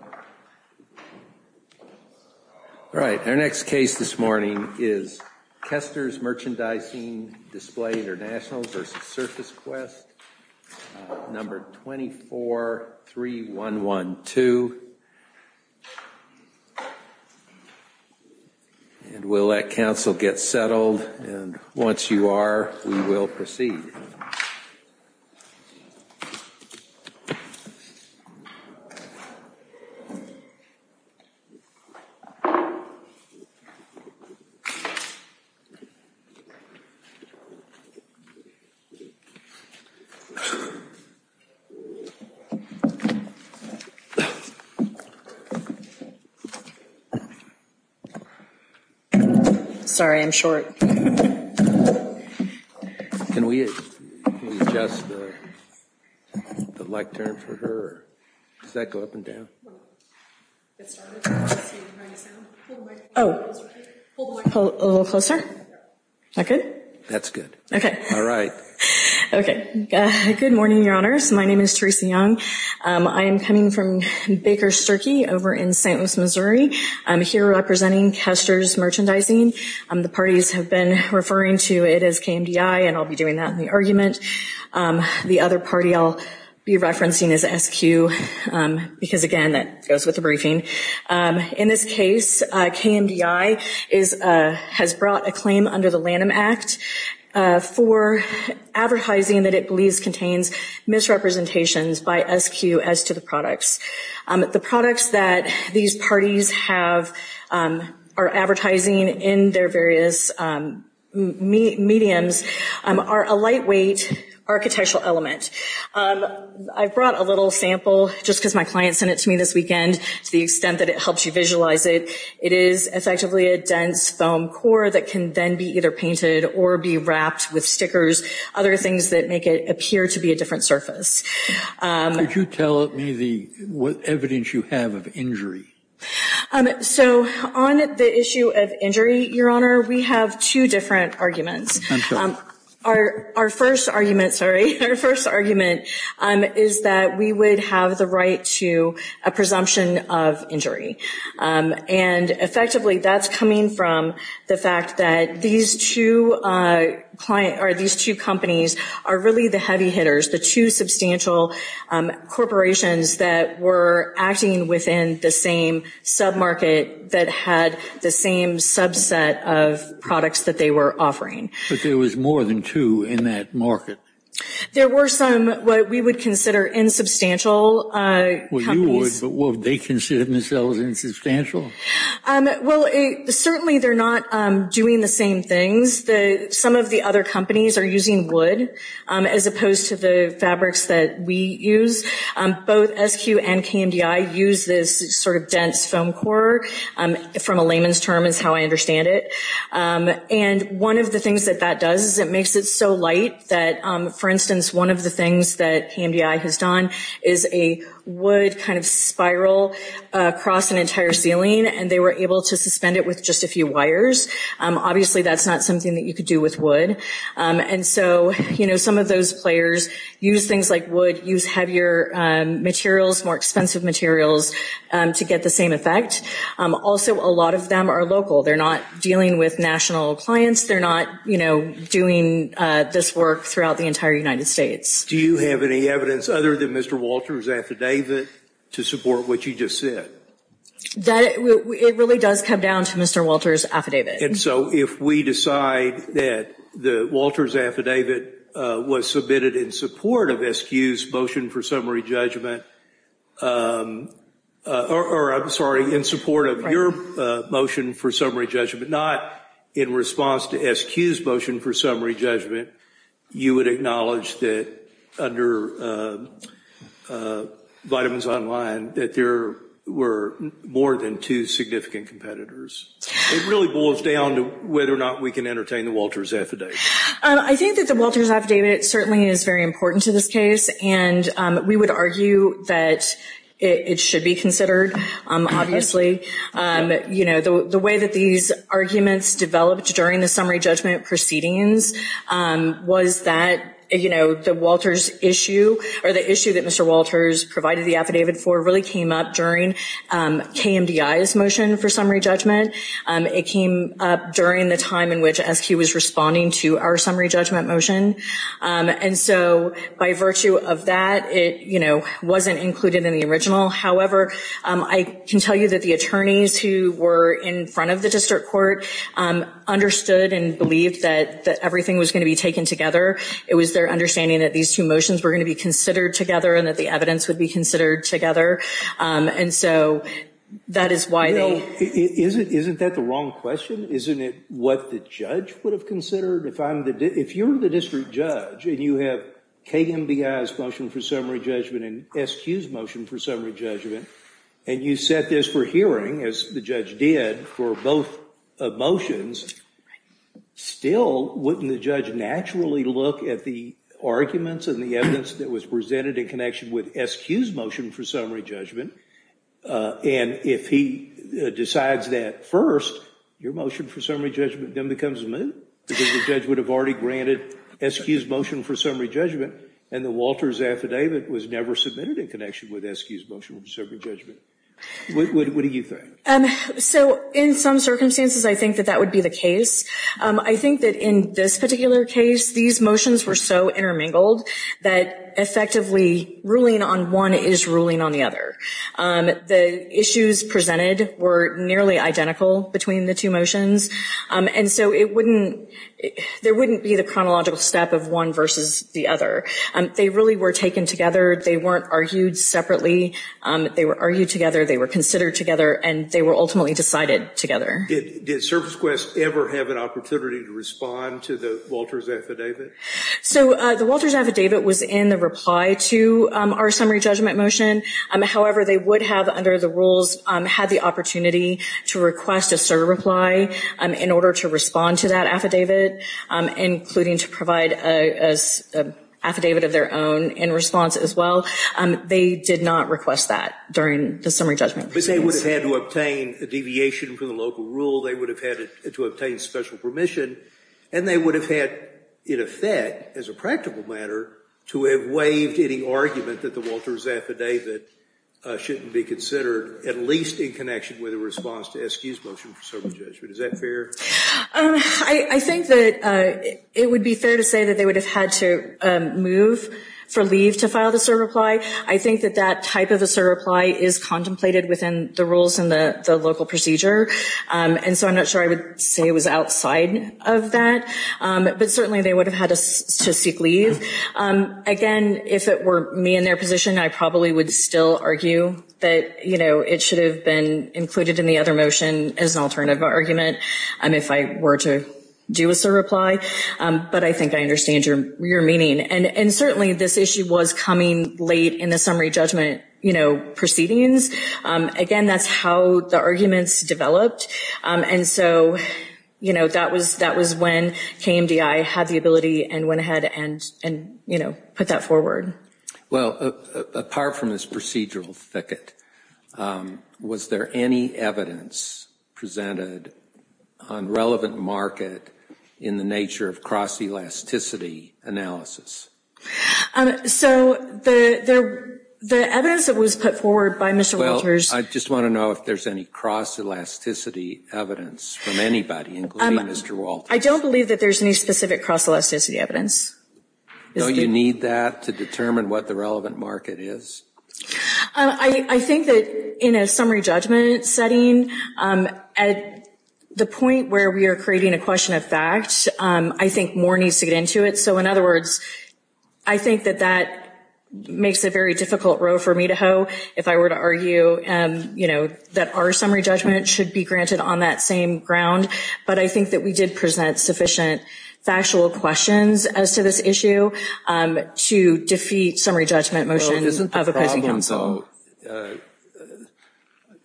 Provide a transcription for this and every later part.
All right, our next case this morning is Kesters Merchandising Display International versus SurfaceQuest, number 243112. And we'll let counsel get settled and once you are, we will proceed. Sorry, I'm short. Can we adjust the lectern for her? Does that go up and down? Oh, a little closer? Is that good? That's good. Okay. All right. Okay. Good morning, Your Honors. My name is Theresa Young. I am coming from Baker Sturkey over in St. Louis, Missouri. I'm here representing Kesters Merchandising. The parties have been referring to it as KMDI, and I'll be doing that in the argument. The other party I'll be referencing is SQ because, again, that goes with the briefing. In this case, KMDI has brought a claim under the Lanham Act for advertising that it believes contains misrepresentations by SQ as to the products. The products that these parties are advertising in their various mediums are a lightweight architectural element. I brought a little sample just because my client sent it to me this weekend to the extent that it helps you visualize it. It is effectively a dense foam core that can then be either painted or be wrapped with stickers, other things that make it appear to be a different surface. Could you tell me what evidence you have of injury? So on the issue of injury, Your Honor, we have two different arguments. Our first argument is that we would have the right to a presumption of injury. And effectively, that's coming from the fact that these two companies are really the heavy hitters, the two substantial corporations that were acting within the same sub-market that had the same subset of products that they were offering. But there was more than two in that market? There were some what we would consider insubstantial companies. Well, you would, but would they consider themselves insubstantial? Well, certainly they're not doing the same things. Some of the other companies are using wood as opposed to the fabrics that we use. Both SQ and KMDI use this sort of dense foam core from a layman's term is how I understand it. And one of the things that that does is it makes it so light that, for instance, one of the things that KMDI has done is a wood kind of spiral across an entire ceiling, and they were able to suspend it with just a few wires. Obviously, that's not something that you could do with wood. And so, you know, some of those players use things like wood, use heavier materials, more expensive materials to get the same effect. Also, a lot of them are local. They're not dealing with national clients. They're not, you know, doing this work throughout the entire United States. Do you have any evidence other than Mr. Walter's affidavit to support what you just said? It really does come down to Mr. Walter's affidavit. And so if we decide that Walter's affidavit was submitted in support of SQ's motion for summary judgment, or I'm sorry, in support of your motion for summary judgment, not in response to SQ's motion for summary judgment, you would acknowledge that under Vitamins Online that there were more than two significant competitors. It really boils down to whether or not we can entertain the Walter's affidavit. I think that the Walter's affidavit certainly is very important to this case, and we would argue that it should be considered, obviously. You know, the way that these arguments developed during the summary judgment proceedings was that, you know, the Walter's issue or the issue that Mr. Walter's provided the affidavit for really came up during KMDI's motion for summary judgment. It came up during the time in which SQ was responding to our summary judgment motion. And so by virtue of that, it, you know, wasn't included in the original. However, I can tell you that the attorneys who were in front of the district court understood and believed that everything was going to be taken together. It was their understanding that these two motions were going to be considered together and that the evidence would be considered together. And so that is why they- Isn't that the wrong question? Isn't it what the judge would have considered? If you're the district judge and you have KMDI's motion for summary judgment and SQ's motion for summary judgment and you set this for hearing, as the judge did, for both motions, still wouldn't the judge naturally look at the arguments and the evidence that was presented in connection with SQ's motion for summary judgment? And if he decides that first, your motion for summary judgment then becomes moot because the judge would have already granted SQ's motion for summary judgment and the Walters affidavit was never submitted in connection with SQ's motion for summary judgment. What do you think? So in some circumstances, I think that that would be the case. I think that in this particular case, these motions were so intermingled that effectively ruling on one is ruling on the other. The issues presented were nearly identical between the two motions, and so there wouldn't be the chronological step of one versus the other. They really were taken together. They weren't argued separately. They were argued together, they were considered together, and they were ultimately decided together. Did ServiceQuest ever have an opportunity to respond to the Walters affidavit? So the Walters affidavit was in the reply to our summary judgment motion. However, they would have, under the rules, had the opportunity to request a certain reply in order to respond to that affidavit, including to provide an affidavit of their own in response as well. They did not request that during the summary judgment. But they would have had to obtain a deviation from the local rule, they would have had to obtain special permission, and they would have had, in effect, as a practical matter, to have waived any argument that the Walters affidavit shouldn't be considered, at least in connection with a response to SQ's motion for summary judgment. Is that fair? I think that it would be fair to say that they would have had to move for leave to file the surreply. I think that that type of a surreply is contemplated within the rules and the local procedure, and so I'm not sure I would say it was outside of that. But certainly they would have had to seek leave. Again, if it were me in their position, I probably would still argue that, you know, it should have been included in the other motion as an alternative argument if I were to do a surreply. But I think I understand your meaning. And certainly this issue was coming late in the summary judgment, you know, proceedings. Again, that's how the arguments developed. And so, you know, that was when KMDI had the ability and went ahead and, you know, put that forward. Well, apart from this procedural thicket, was there any evidence presented on relevant market in the nature of cross-elasticity analysis? So the evidence that was put forward by Mr. Walters Well, I just want to know if there's any cross-elasticity evidence from anybody, including Mr. Walters. I don't believe that there's any specific cross-elasticity evidence. Don't you need that to determine what the relevant market is? I think that in a summary judgment setting, at the point where we are creating a question of fact, I think more needs to get into it. So, in other words, I think that that makes a very difficult row for me to hoe. If I were to argue, you know, that our summary judgment should be granted on that same ground. But I think that we did present sufficient factual questions as to this issue to defeat summary judgment motion of a policy council. So,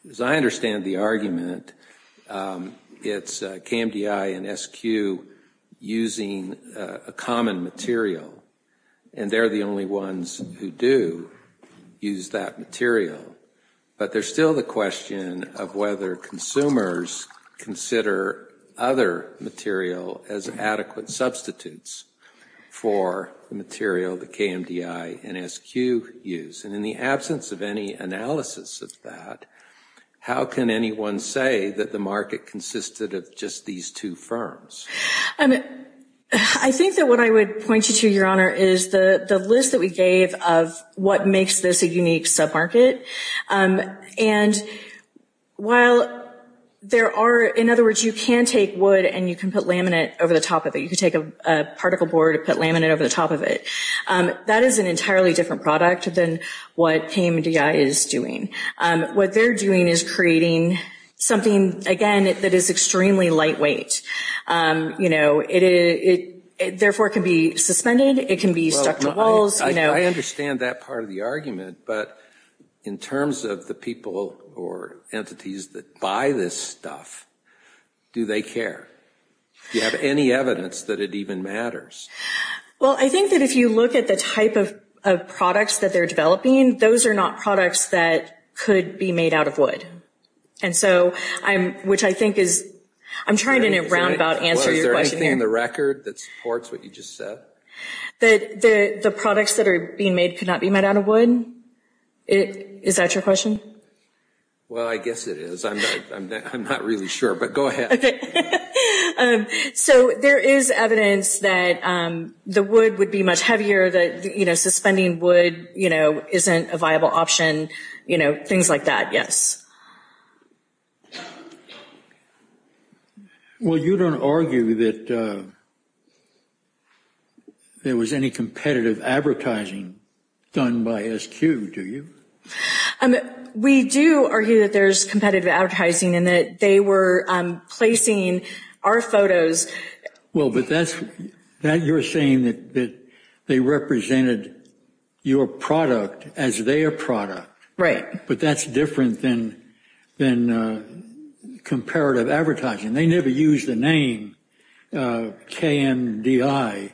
as I understand the argument, it's KMDI and SQ using a common material. And they're the only ones who do use that material. But there's still the question of whether consumers consider other material as adequate substitutes for the material that KMDI and SQ use. And in the absence of any analysis of that, how can anyone say that the market consisted of just these two firms? I think that what I would point you to, Your Honor, is the list that we gave of what makes this a unique sub-market. And while there are, in other words, you can take wood and you can put laminate over the top of it. You can take a particle board and put laminate over the top of it. That is an entirely different product than what KMDI is doing. What they're doing is creating something, again, that is extremely lightweight. You know, it therefore can be suspended. It can be stuck to walls. I understand that part of the argument. But in terms of the people or entities that buy this stuff, do they care? Do you have any evidence that it even matters? Well, I think that if you look at the type of products that they're developing, those are not products that could be made out of wood. And so I'm, which I think is, I'm trying to in a roundabout answer your question. Is there anything in the record that supports what you just said? That the products that are being made could not be made out of wood? Is that your question? Well, I guess it is. I'm not really sure, but go ahead. So there is evidence that the wood would be much heavier, that, you know, suspending wood, you know, isn't a viable option. You know, things like that, yes. Well, you don't argue that there was any competitive advertising done by SQ, do you? We do argue that there's competitive advertising and that they were placing our photos. Well, but that's, you're saying that they represented your product as their product. Right. But that's different than comparative advertising. They never used the name KMDI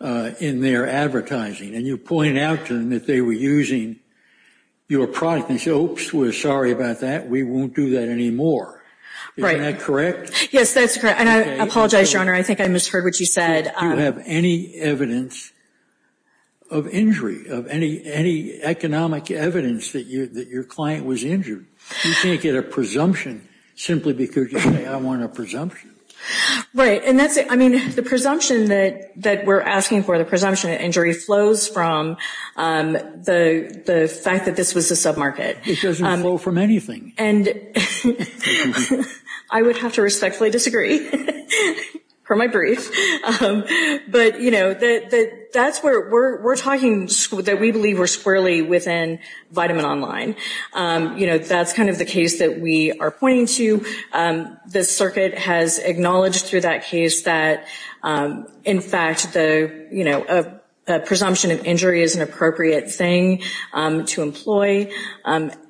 in their advertising. And you're pointing out to them that they were using your product. And you say, oops, we're sorry about that, we won't do that anymore. Right. Isn't that correct? Yes, that's correct. And I apologize, Your Honor, I think I misheard what you said. You don't have any evidence of injury, of any economic evidence that your client was injured. You can't get a presumption simply because you say, I want a presumption. Right. And that's it. I mean, the presumption that we're asking for, the presumption of injury, flows from the fact that this was a submarket. It doesn't flow from anything. And I would have to respectfully disagree, per my brief. But, you know, that's where we're talking that we believe we're squarely within Vitamin Online. You know, that's kind of the case that we are pointing to. The circuit has acknowledged through that case that, in fact, the, you know, a presumption of injury is an appropriate thing to employ.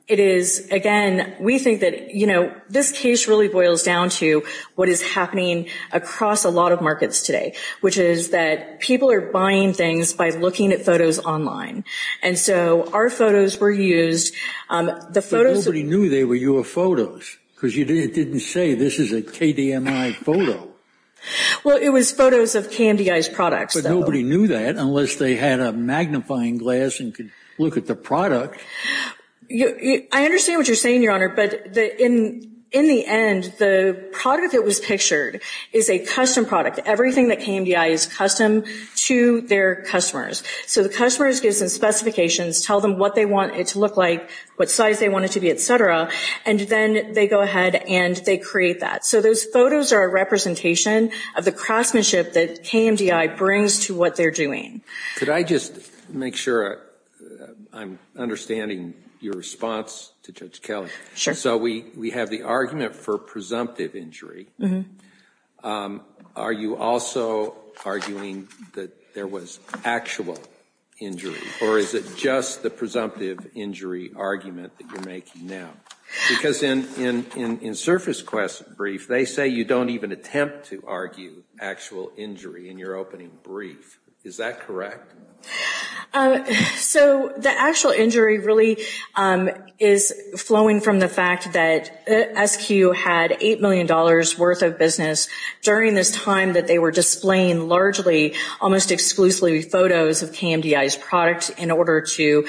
It is, again, we think that, you know, this case really boils down to what is happening across a lot of markets today, which is that people are buying things by looking at photos online. And so our photos were used. But nobody knew they were your photos because it didn't say this is a KDMI photo. Well, it was photos of KMDI's products. But nobody knew that unless they had a magnifying glass and could look at the product. I understand what you're saying, Your Honor. But in the end, the product that was pictured is a custom product. Everything that KMDI is custom to their customers. So the customers give some specifications, tell them what they want it to look like, what size they want it to be, et cetera. And then they go ahead and they create that. So those photos are a representation of the craftsmanship that KMDI brings to what they're doing. Could I just make sure I'm understanding your response to Judge Kelly? Sure. So we have the argument for presumptive injury. Are you also arguing that there was actual injury? Or is it just the presumptive injury argument that you're making now? Because in SurfaceQuest's brief, they say you don't even attempt to argue actual injury in your opening brief. Is that correct? So the actual injury really is flowing from the fact that SQ had $8 million worth of business during this time that they were displaying largely almost exclusively photos of KMDI's product in order to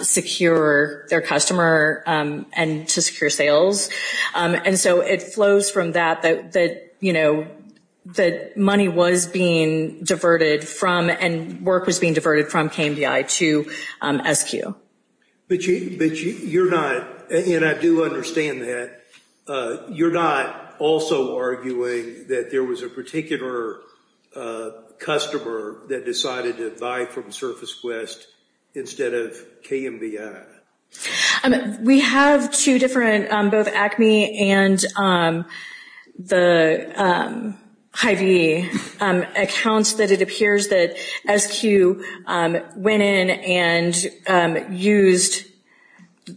secure their customer and to secure sales. And so it flows from that that money was being diverted from and work was being diverted from KMDI to SQ. But you're not, and I do understand that, you're not also arguing that there was a particular customer that decided to buy from SurfaceQuest instead of KMDI? We have two different, both Acme and the Hy-Vee accounts that it appears that SQ went in and used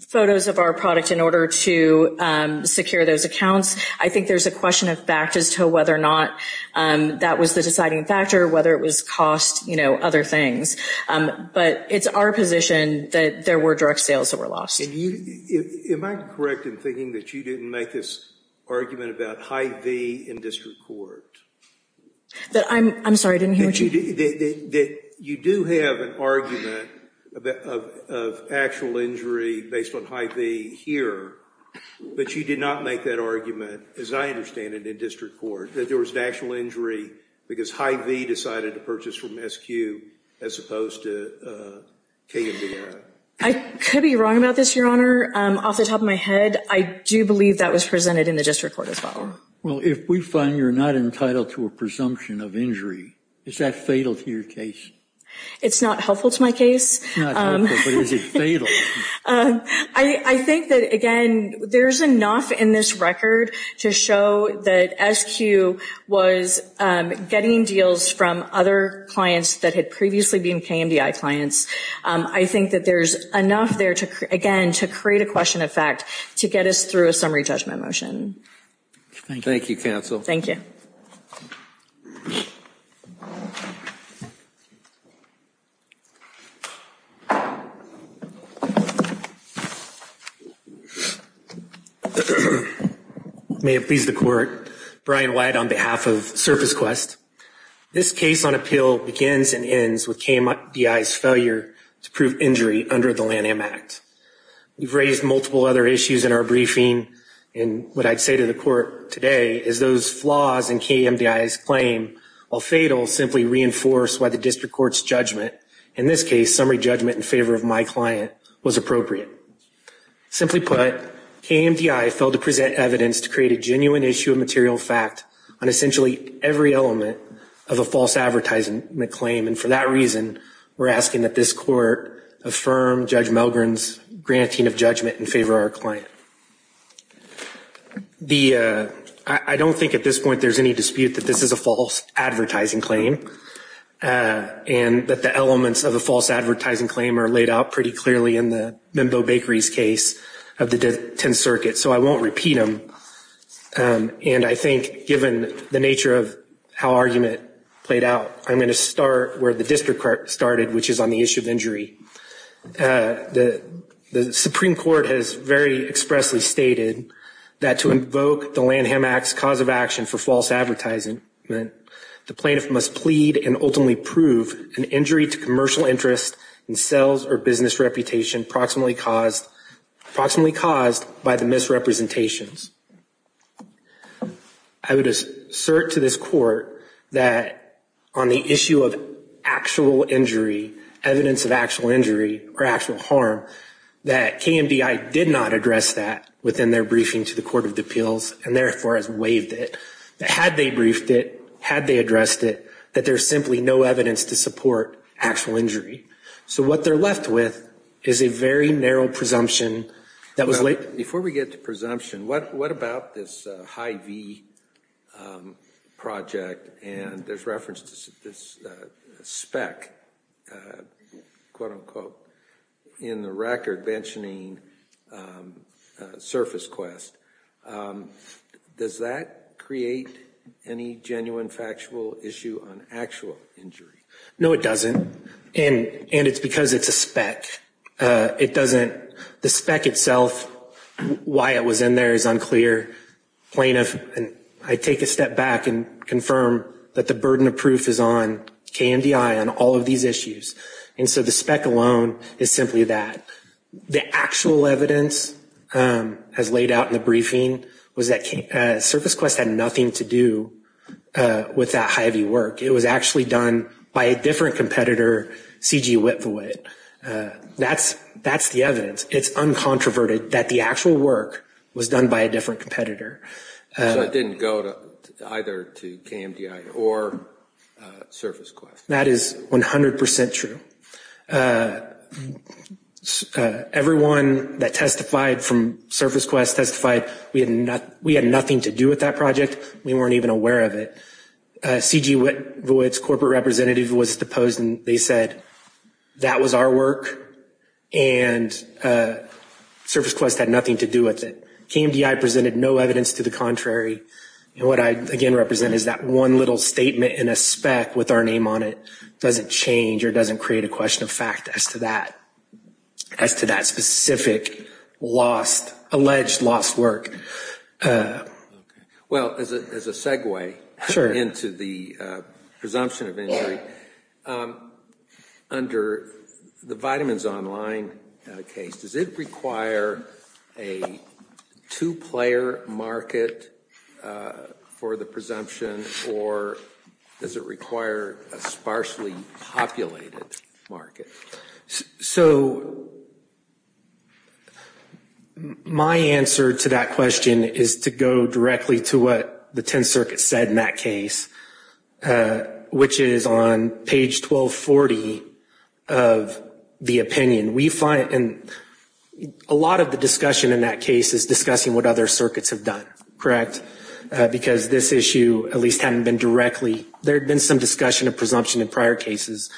photos of our product in order to secure those accounts. I think there's a question of fact as to whether or not that was the deciding factor, whether it was cost, you know, other things. But it's our position that there were direct sales that were lost. Am I correct in thinking that you didn't make this argument about Hy-Vee in district court? I'm sorry, I didn't hear what you said. That you do have an argument of actual injury based on Hy-Vee here, but you did not make that argument, as I understand it, in district court, that there was an actual injury because Hy-Vee decided to purchase from SQ as opposed to KMDI. I could be wrong about this, Your Honor. Off the top of my head, I do believe that was presented in the district court as well. Well, if we find you're not entitled to a presumption of injury, is that fatal to your case? It's not helpful to my case. It's not helpful, but is it fatal? I think that, again, there's enough in this record to show that SQ was getting deals from other clients that had previously been KMDI clients. I think that there's enough there, again, to create a question of fact to get us through a summary judgment motion. Thank you, counsel. Thank you. May it please the court. Brian White on behalf of Surface Quest. This case on appeal begins and ends with KMDI's failure to prove injury under the Lanham Act. We've raised multiple other issues in our briefing, and what I'd say to the court today is those flaws in KMDI's claim, while fatal, simply reinforce why the district court's judgment, in this case, in favor of my client, was appropriate. Simply put, KMDI failed to present evidence to create a genuine issue of material fact on essentially every element of a false advertisement claim, and for that reason, we're asking that this court affirm Judge Melgren's granting of judgment in favor of our client. I don't think at this point there's any dispute that this is a false advertising claim and that the elements of a false advertising claim are laid out pretty clearly in the Mimbeau Bakeries case of the 10th Circuit, so I won't repeat them, and I think given the nature of how argument played out, I'm going to start where the district court started, which is on the issue of injury. The Supreme Court has very expressly stated that to invoke the Lanham Act's cause of action for false advertising, the plaintiff must plead and ultimately prove an injury to commercial interest in sales or business reputation approximately caused by the misrepresentations. I would assert to this court that on the issue of actual injury, evidence of actual injury or actual harm, that KMDI did not address that within their briefing to the court of appeals and therefore has waived it. Had they briefed it, had they addressed it, that there's simply no evidence to support actual injury. So what they're left with is a very narrow presumption. Before we get to presumption, what about this Hy-Vee project, and there's reference to this speck, quote-unquote, in the record mentioning Surface Quest. Does that create any genuine factual issue on actual injury? No, it doesn't, and it's because it's a speck. It doesn't, the speck itself, why it was in there is unclear. Plaintiff, I take a step back and confirm that the burden of proof is on KMDI on all of these issues, and so the speck alone is simply that. The actual evidence as laid out in the briefing was that Surface Quest had nothing to do with that Hy-Vee work. It was actually done by a different competitor, C.G. Whitthewitt. That's the evidence. It's uncontroverted that the actual work was done by a different competitor. So it didn't go either to KMDI or Surface Quest. That is 100 percent true. Everyone that testified from Surface Quest testified we had nothing to do with that project. We weren't even aware of it. C.G. Whitthewitt's corporate representative was deposed, and they said that was our work and Surface Quest had nothing to do with it. KMDI presented no evidence to the contrary, and what I again represent is that one little statement in a speck with our name on it doesn't change or doesn't create a question of fact as to that specific lost, alleged lost work. Well, as a segue into the presumption of injury, under the Vitamins Online case, does it require a two-player market for the presumption, or does it require a sparsely populated market? So my answer to that question is to go directly to what the Tenth Circuit said in that case, which is on page 1240 of the opinion. We find a lot of the discussion in that case is discussing what other circuits have done, correct, because this issue at least hadn't been directly. There had been some discussion of presumption in prior cases,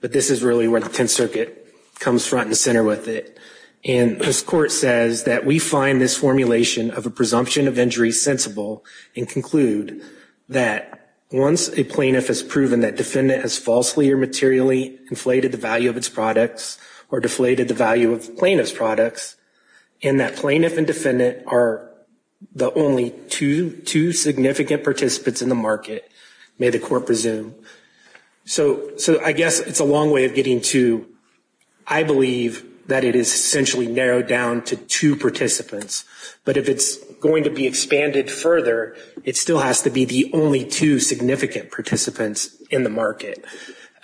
but this is really where the Tenth Circuit comes front and center with it. And this court says that we find this formulation of a presumption of injury sensible and conclude that once a plaintiff has proven that defendant has falsely or materially inflated the value of its products or deflated the value of plaintiff's products, and that plaintiff and defendant are the only two significant participants in the market, may the court presume. So I guess it's a long way of getting to, I believe, that it is essentially narrowed down to two participants. But if it's going to be expanded further, it still has to be the only two significant participants in the market.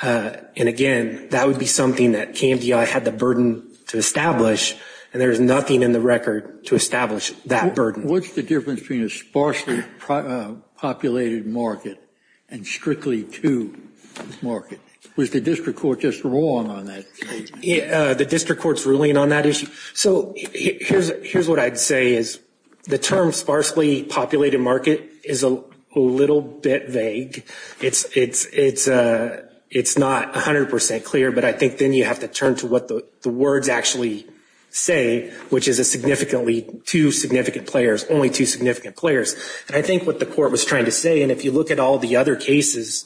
And, again, that would be something that KMDI had the burden to establish, and there is nothing in the record to establish that burden. What's the difference between a sparsely populated market and strictly two market? Was the district court just wrong on that statement? The district court's ruling on that issue? So here's what I'd say is the term sparsely populated market is a little bit vague. It's not 100% clear, but I think then you have to turn to what the words actually say, which is a significantly two significant players, only two significant players. And I think what the court was trying to say, and if you look at all the other cases,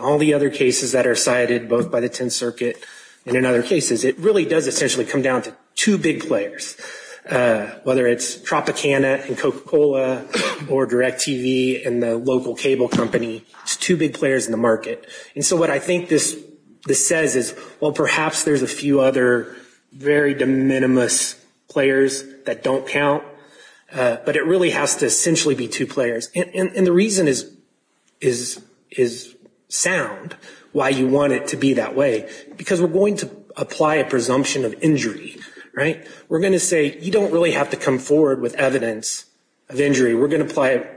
all the other cases that are cited both by the Tenth Circuit and in other cases, it really does essentially come down to two big players. Whether it's Tropicana and Coca-Cola or DirecTV and the local cable company, it's two big players in the market. And so what I think this says is, well, perhaps there's a few other very de minimis players that don't count, but it really has to essentially be two players. And the reason is sound, why you want it to be that way, because we're going to apply a presumption of injury, right? We're going to say you don't really have to come forward with evidence of injury. We're going to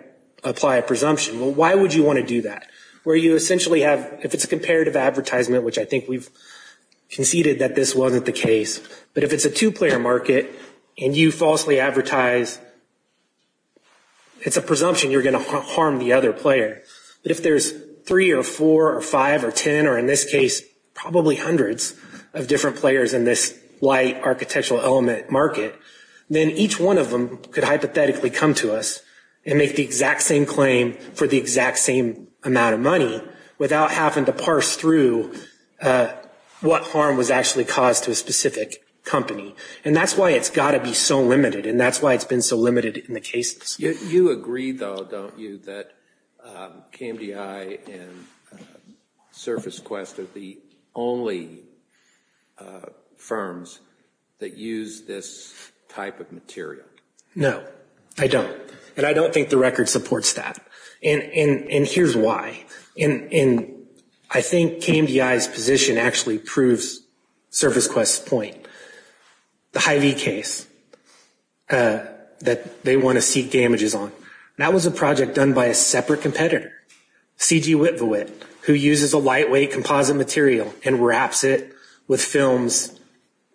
apply a presumption. Well, why would you want to do that? Where you essentially have, if it's a comparative advertisement, which I think we've conceded that this wasn't the case, but if it's a two-player market and you falsely advertise, it's a presumption you're going to harm the other player. But if there's three or four or five or ten or in this case probably hundreds of different players in this light architectural element market, then each one of them could hypothetically come to us and make the exact same claim for the exact same amount of money without having to parse through what harm was actually caused to a specific company. And that's why it's got to be so limited, and that's why it's been so limited in the cases. You agree, though, don't you, that KMDI and SurfaceQuest are the only firms that use this type of material? No, I don't. And I don't think the record supports that. And here's why. I think KMDI's position actually proves SurfaceQuest's point. The Hy-Vee case that they want to seek damages on, that was a project done by a separate competitor, CGWitVWit, who uses a lightweight composite material and wraps it with films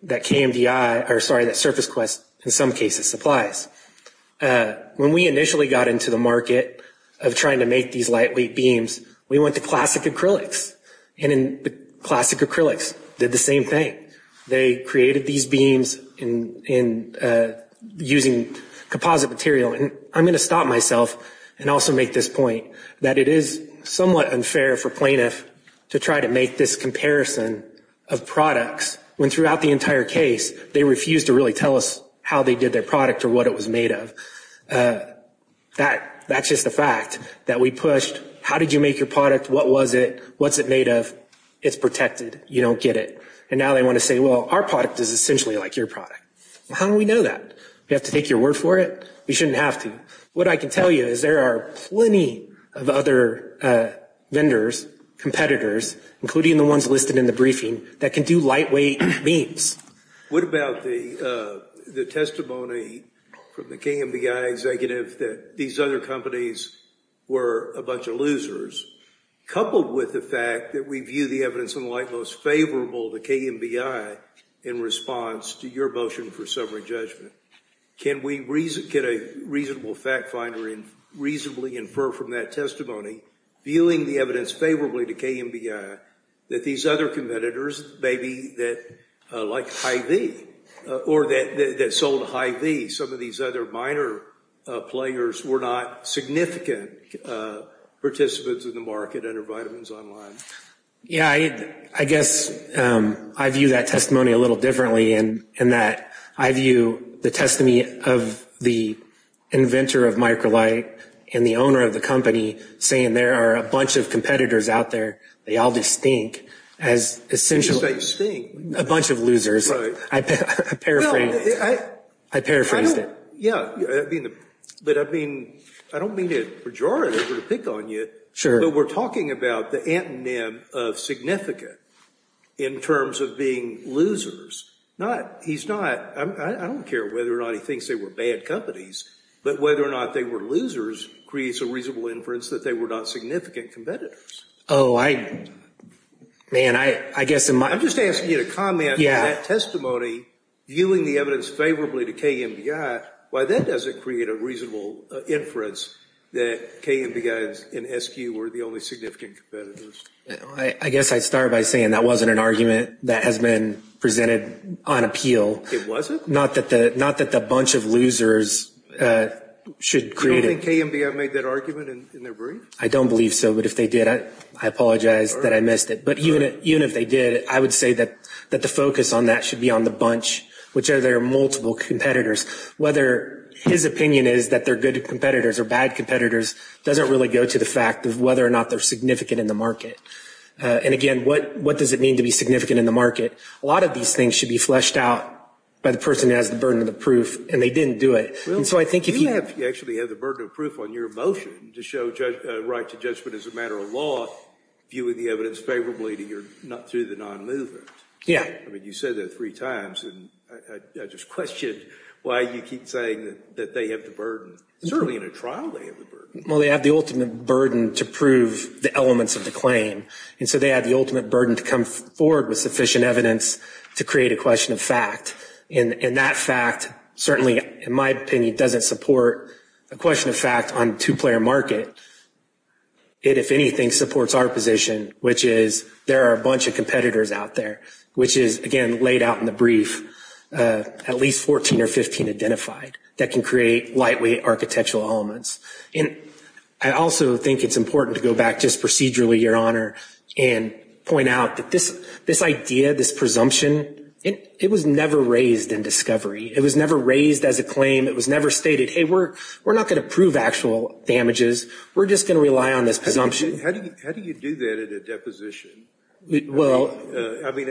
that SurfaceQuest in some cases supplies. When we initially got into the market of trying to make these lightweight beams, we went to Classic Acrylics, and Classic Acrylics did the same thing. They created these beams using composite material. And I'm going to stop myself and also make this point, that it is somewhat unfair for plaintiffs to try to make this comparison of products when throughout the entire case they refused to really tell us how they did their product or what it was made of. That's just a fact that we pushed. How did you make your product? What was it? What's it made of? It's protected. You don't get it. And now they want to say, well, our product is essentially like your product. How do we know that? Do we have to take your word for it? We shouldn't have to. What I can tell you is there are plenty of other vendors, competitors, including the ones listed in the briefing, that can do lightweight beams. What about the testimony from the KMDI executive that these other companies were a bunch of losers, coupled with the fact that we view the evidence in the light most favorable to KMDI in response to your motion for summary judgment? Can a reasonable fact finder reasonably infer from that testimony, viewing the evidence favorably to KMDI, that these other competitors, maybe like Hy-Vee, or that sold Hy-Vee, some of these other minor players, were not significant participants in the market under Vitamins Online? Yeah, I guess I view that testimony a little differently in that I view the testimony of the inventor of Microlight and the owner of the company saying there are a bunch of competitors out there, they all do stink, as essentially a bunch of losers. I paraphrased it. Yeah, but I don't mean to pejorate or to pick on you, but we're talking about the antonym of significant in terms of being losers. I don't care whether or not he thinks they were bad companies, but whether or not they were losers creates a reasonable inference that they were not significant competitors. I'm just asking you to comment on that testimony, viewing the evidence favorably to KMDI, why that doesn't create a reasonable inference that KMDI and SQ were the only significant competitors. I guess I'd start by saying that wasn't an argument that has been presented on appeal. It wasn't? Not that the bunch of losers should create it. You don't think KMDI made that argument in their brief? I don't believe so, but if they did, I apologize that I missed it. But even if they did, I would say that the focus on that should be on the bunch, which are their multiple competitors, whether his opinion is that they're good competitors or bad competitors, doesn't really go to the fact of whether or not they're significant in the market. And again, what does it mean to be significant in the market? A lot of these things should be fleshed out by the person who has the burden of the proof, and they didn't do it. You actually have the burden of proof on your motion to show a right to judgment as a matter of law, viewing the evidence favorably through the non-movement. You said that three times, and I just question why you keep saying that they have the burden. Certainly in a trial they have the burden. Well, they have the ultimate burden to prove the elements of the claim, and so they have the ultimate burden to come forward with sufficient evidence to create a question of fact. And that fact certainly, in my opinion, doesn't support a question of fact on a two-player market. It, if anything, supports our position, which is there are a bunch of competitors out there, which is, again, laid out in the brief, at least 14 or 15 identified, that can create lightweight architectural elements. And I also think it's important to go back just procedurally, Your Honor, and point out that this idea, this presumption, it was never raised in discovery. It was never raised as a claim. It was never stated, hey, we're not going to prove actual damages. We're just going to rely on this presumption. How do you do that at a deposition? Well. I mean,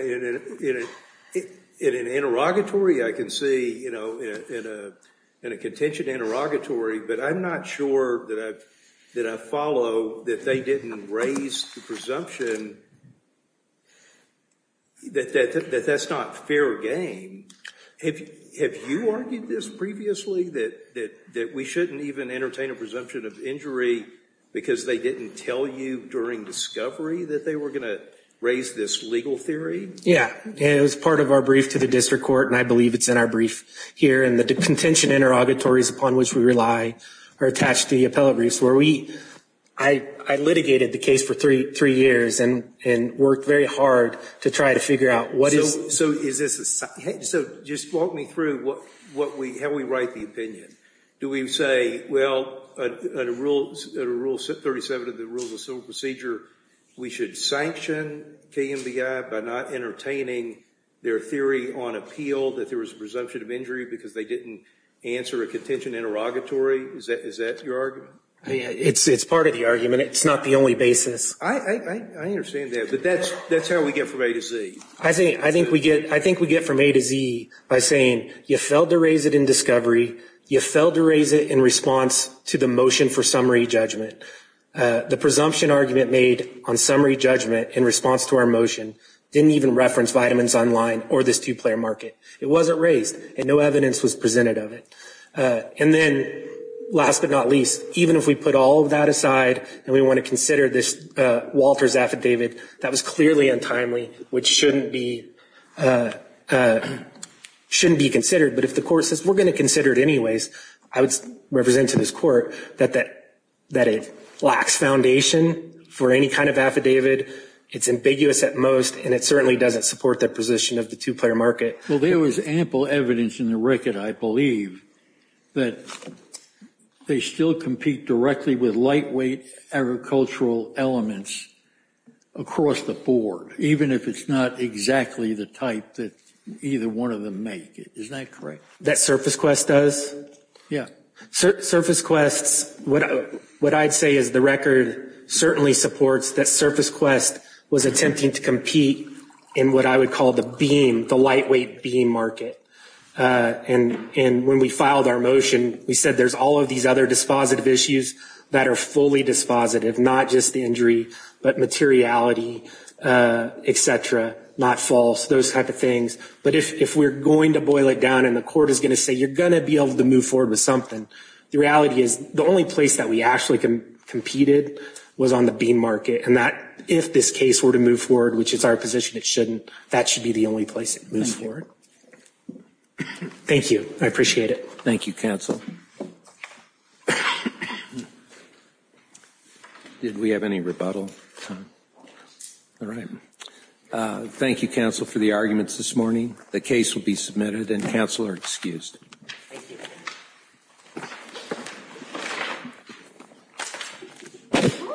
in an interrogatory I can see, you know, in a contention interrogatory, but I'm not sure that I follow that they didn't raise the presumption that that's not fair game. Have you argued this previously, that we shouldn't even entertain a presumption of injury because they didn't tell you during discovery that they were going to raise this legal theory? Yeah. It was part of our brief to the district court, and I believe it's in our brief here. And the contention interrogatories upon which we rely are attached to the appellate briefs. I litigated the case for three years and worked very hard to try to figure out what is... So just walk me through how we write the opinion. Do we say, well, under Rule 37 of the Rules of Civil Procedure, we should sanction KMBI by not entertaining their theory on appeal that there was a presumption of injury because they didn't answer a contention interrogatory? Is that your argument? It's part of the argument. It's not the only basis. I understand that, but that's how we get from A to Z. I think we get from A to Z by saying you failed to raise it in discovery, you failed to raise it in response to the motion for summary judgment. The presumption argument made on summary judgment in response to our motion didn't even reference Vitamins Online or this two-player market. It wasn't raised, and no evidence was presented of it. And then last but not least, even if we put all of that aside and we want to consider this Walters affidavit, that was clearly untimely, which shouldn't be considered. But if the court says we're going to consider it anyways, I would represent to this court that it lacks foundation for any kind of affidavit. It's ambiguous at most, and it certainly doesn't support the position of the two-player market. Well, there was ample evidence in the record, I believe, that they still compete directly with lightweight agricultural elements across the board, even if it's not exactly the type that either one of them make. Isn't that correct? That SurfaceQuest does? Yeah. SurfaceQuest, what I'd say is the record certainly supports that SurfaceQuest was attempting to compete in what I would call the beam, the lightweight beam market. And when we filed our motion, we said there's all of these other dispositive issues that are fully dispositive, not just the injury, but materiality, et cetera, not false, those type of things. But if we're going to boil it down and the court is going to say you're going to be able to move forward with something, the reality is the only place that we actually competed was on the beam market, and if this case were to move forward, which is our position it shouldn't, that should be the only place it moves forward. Thank you. I appreciate it. Thank you, counsel. Did we have any rebuttal time? All right. Thank you, counsel, for the arguments this morning. The case will be submitted, and counsel are excused. Thank you.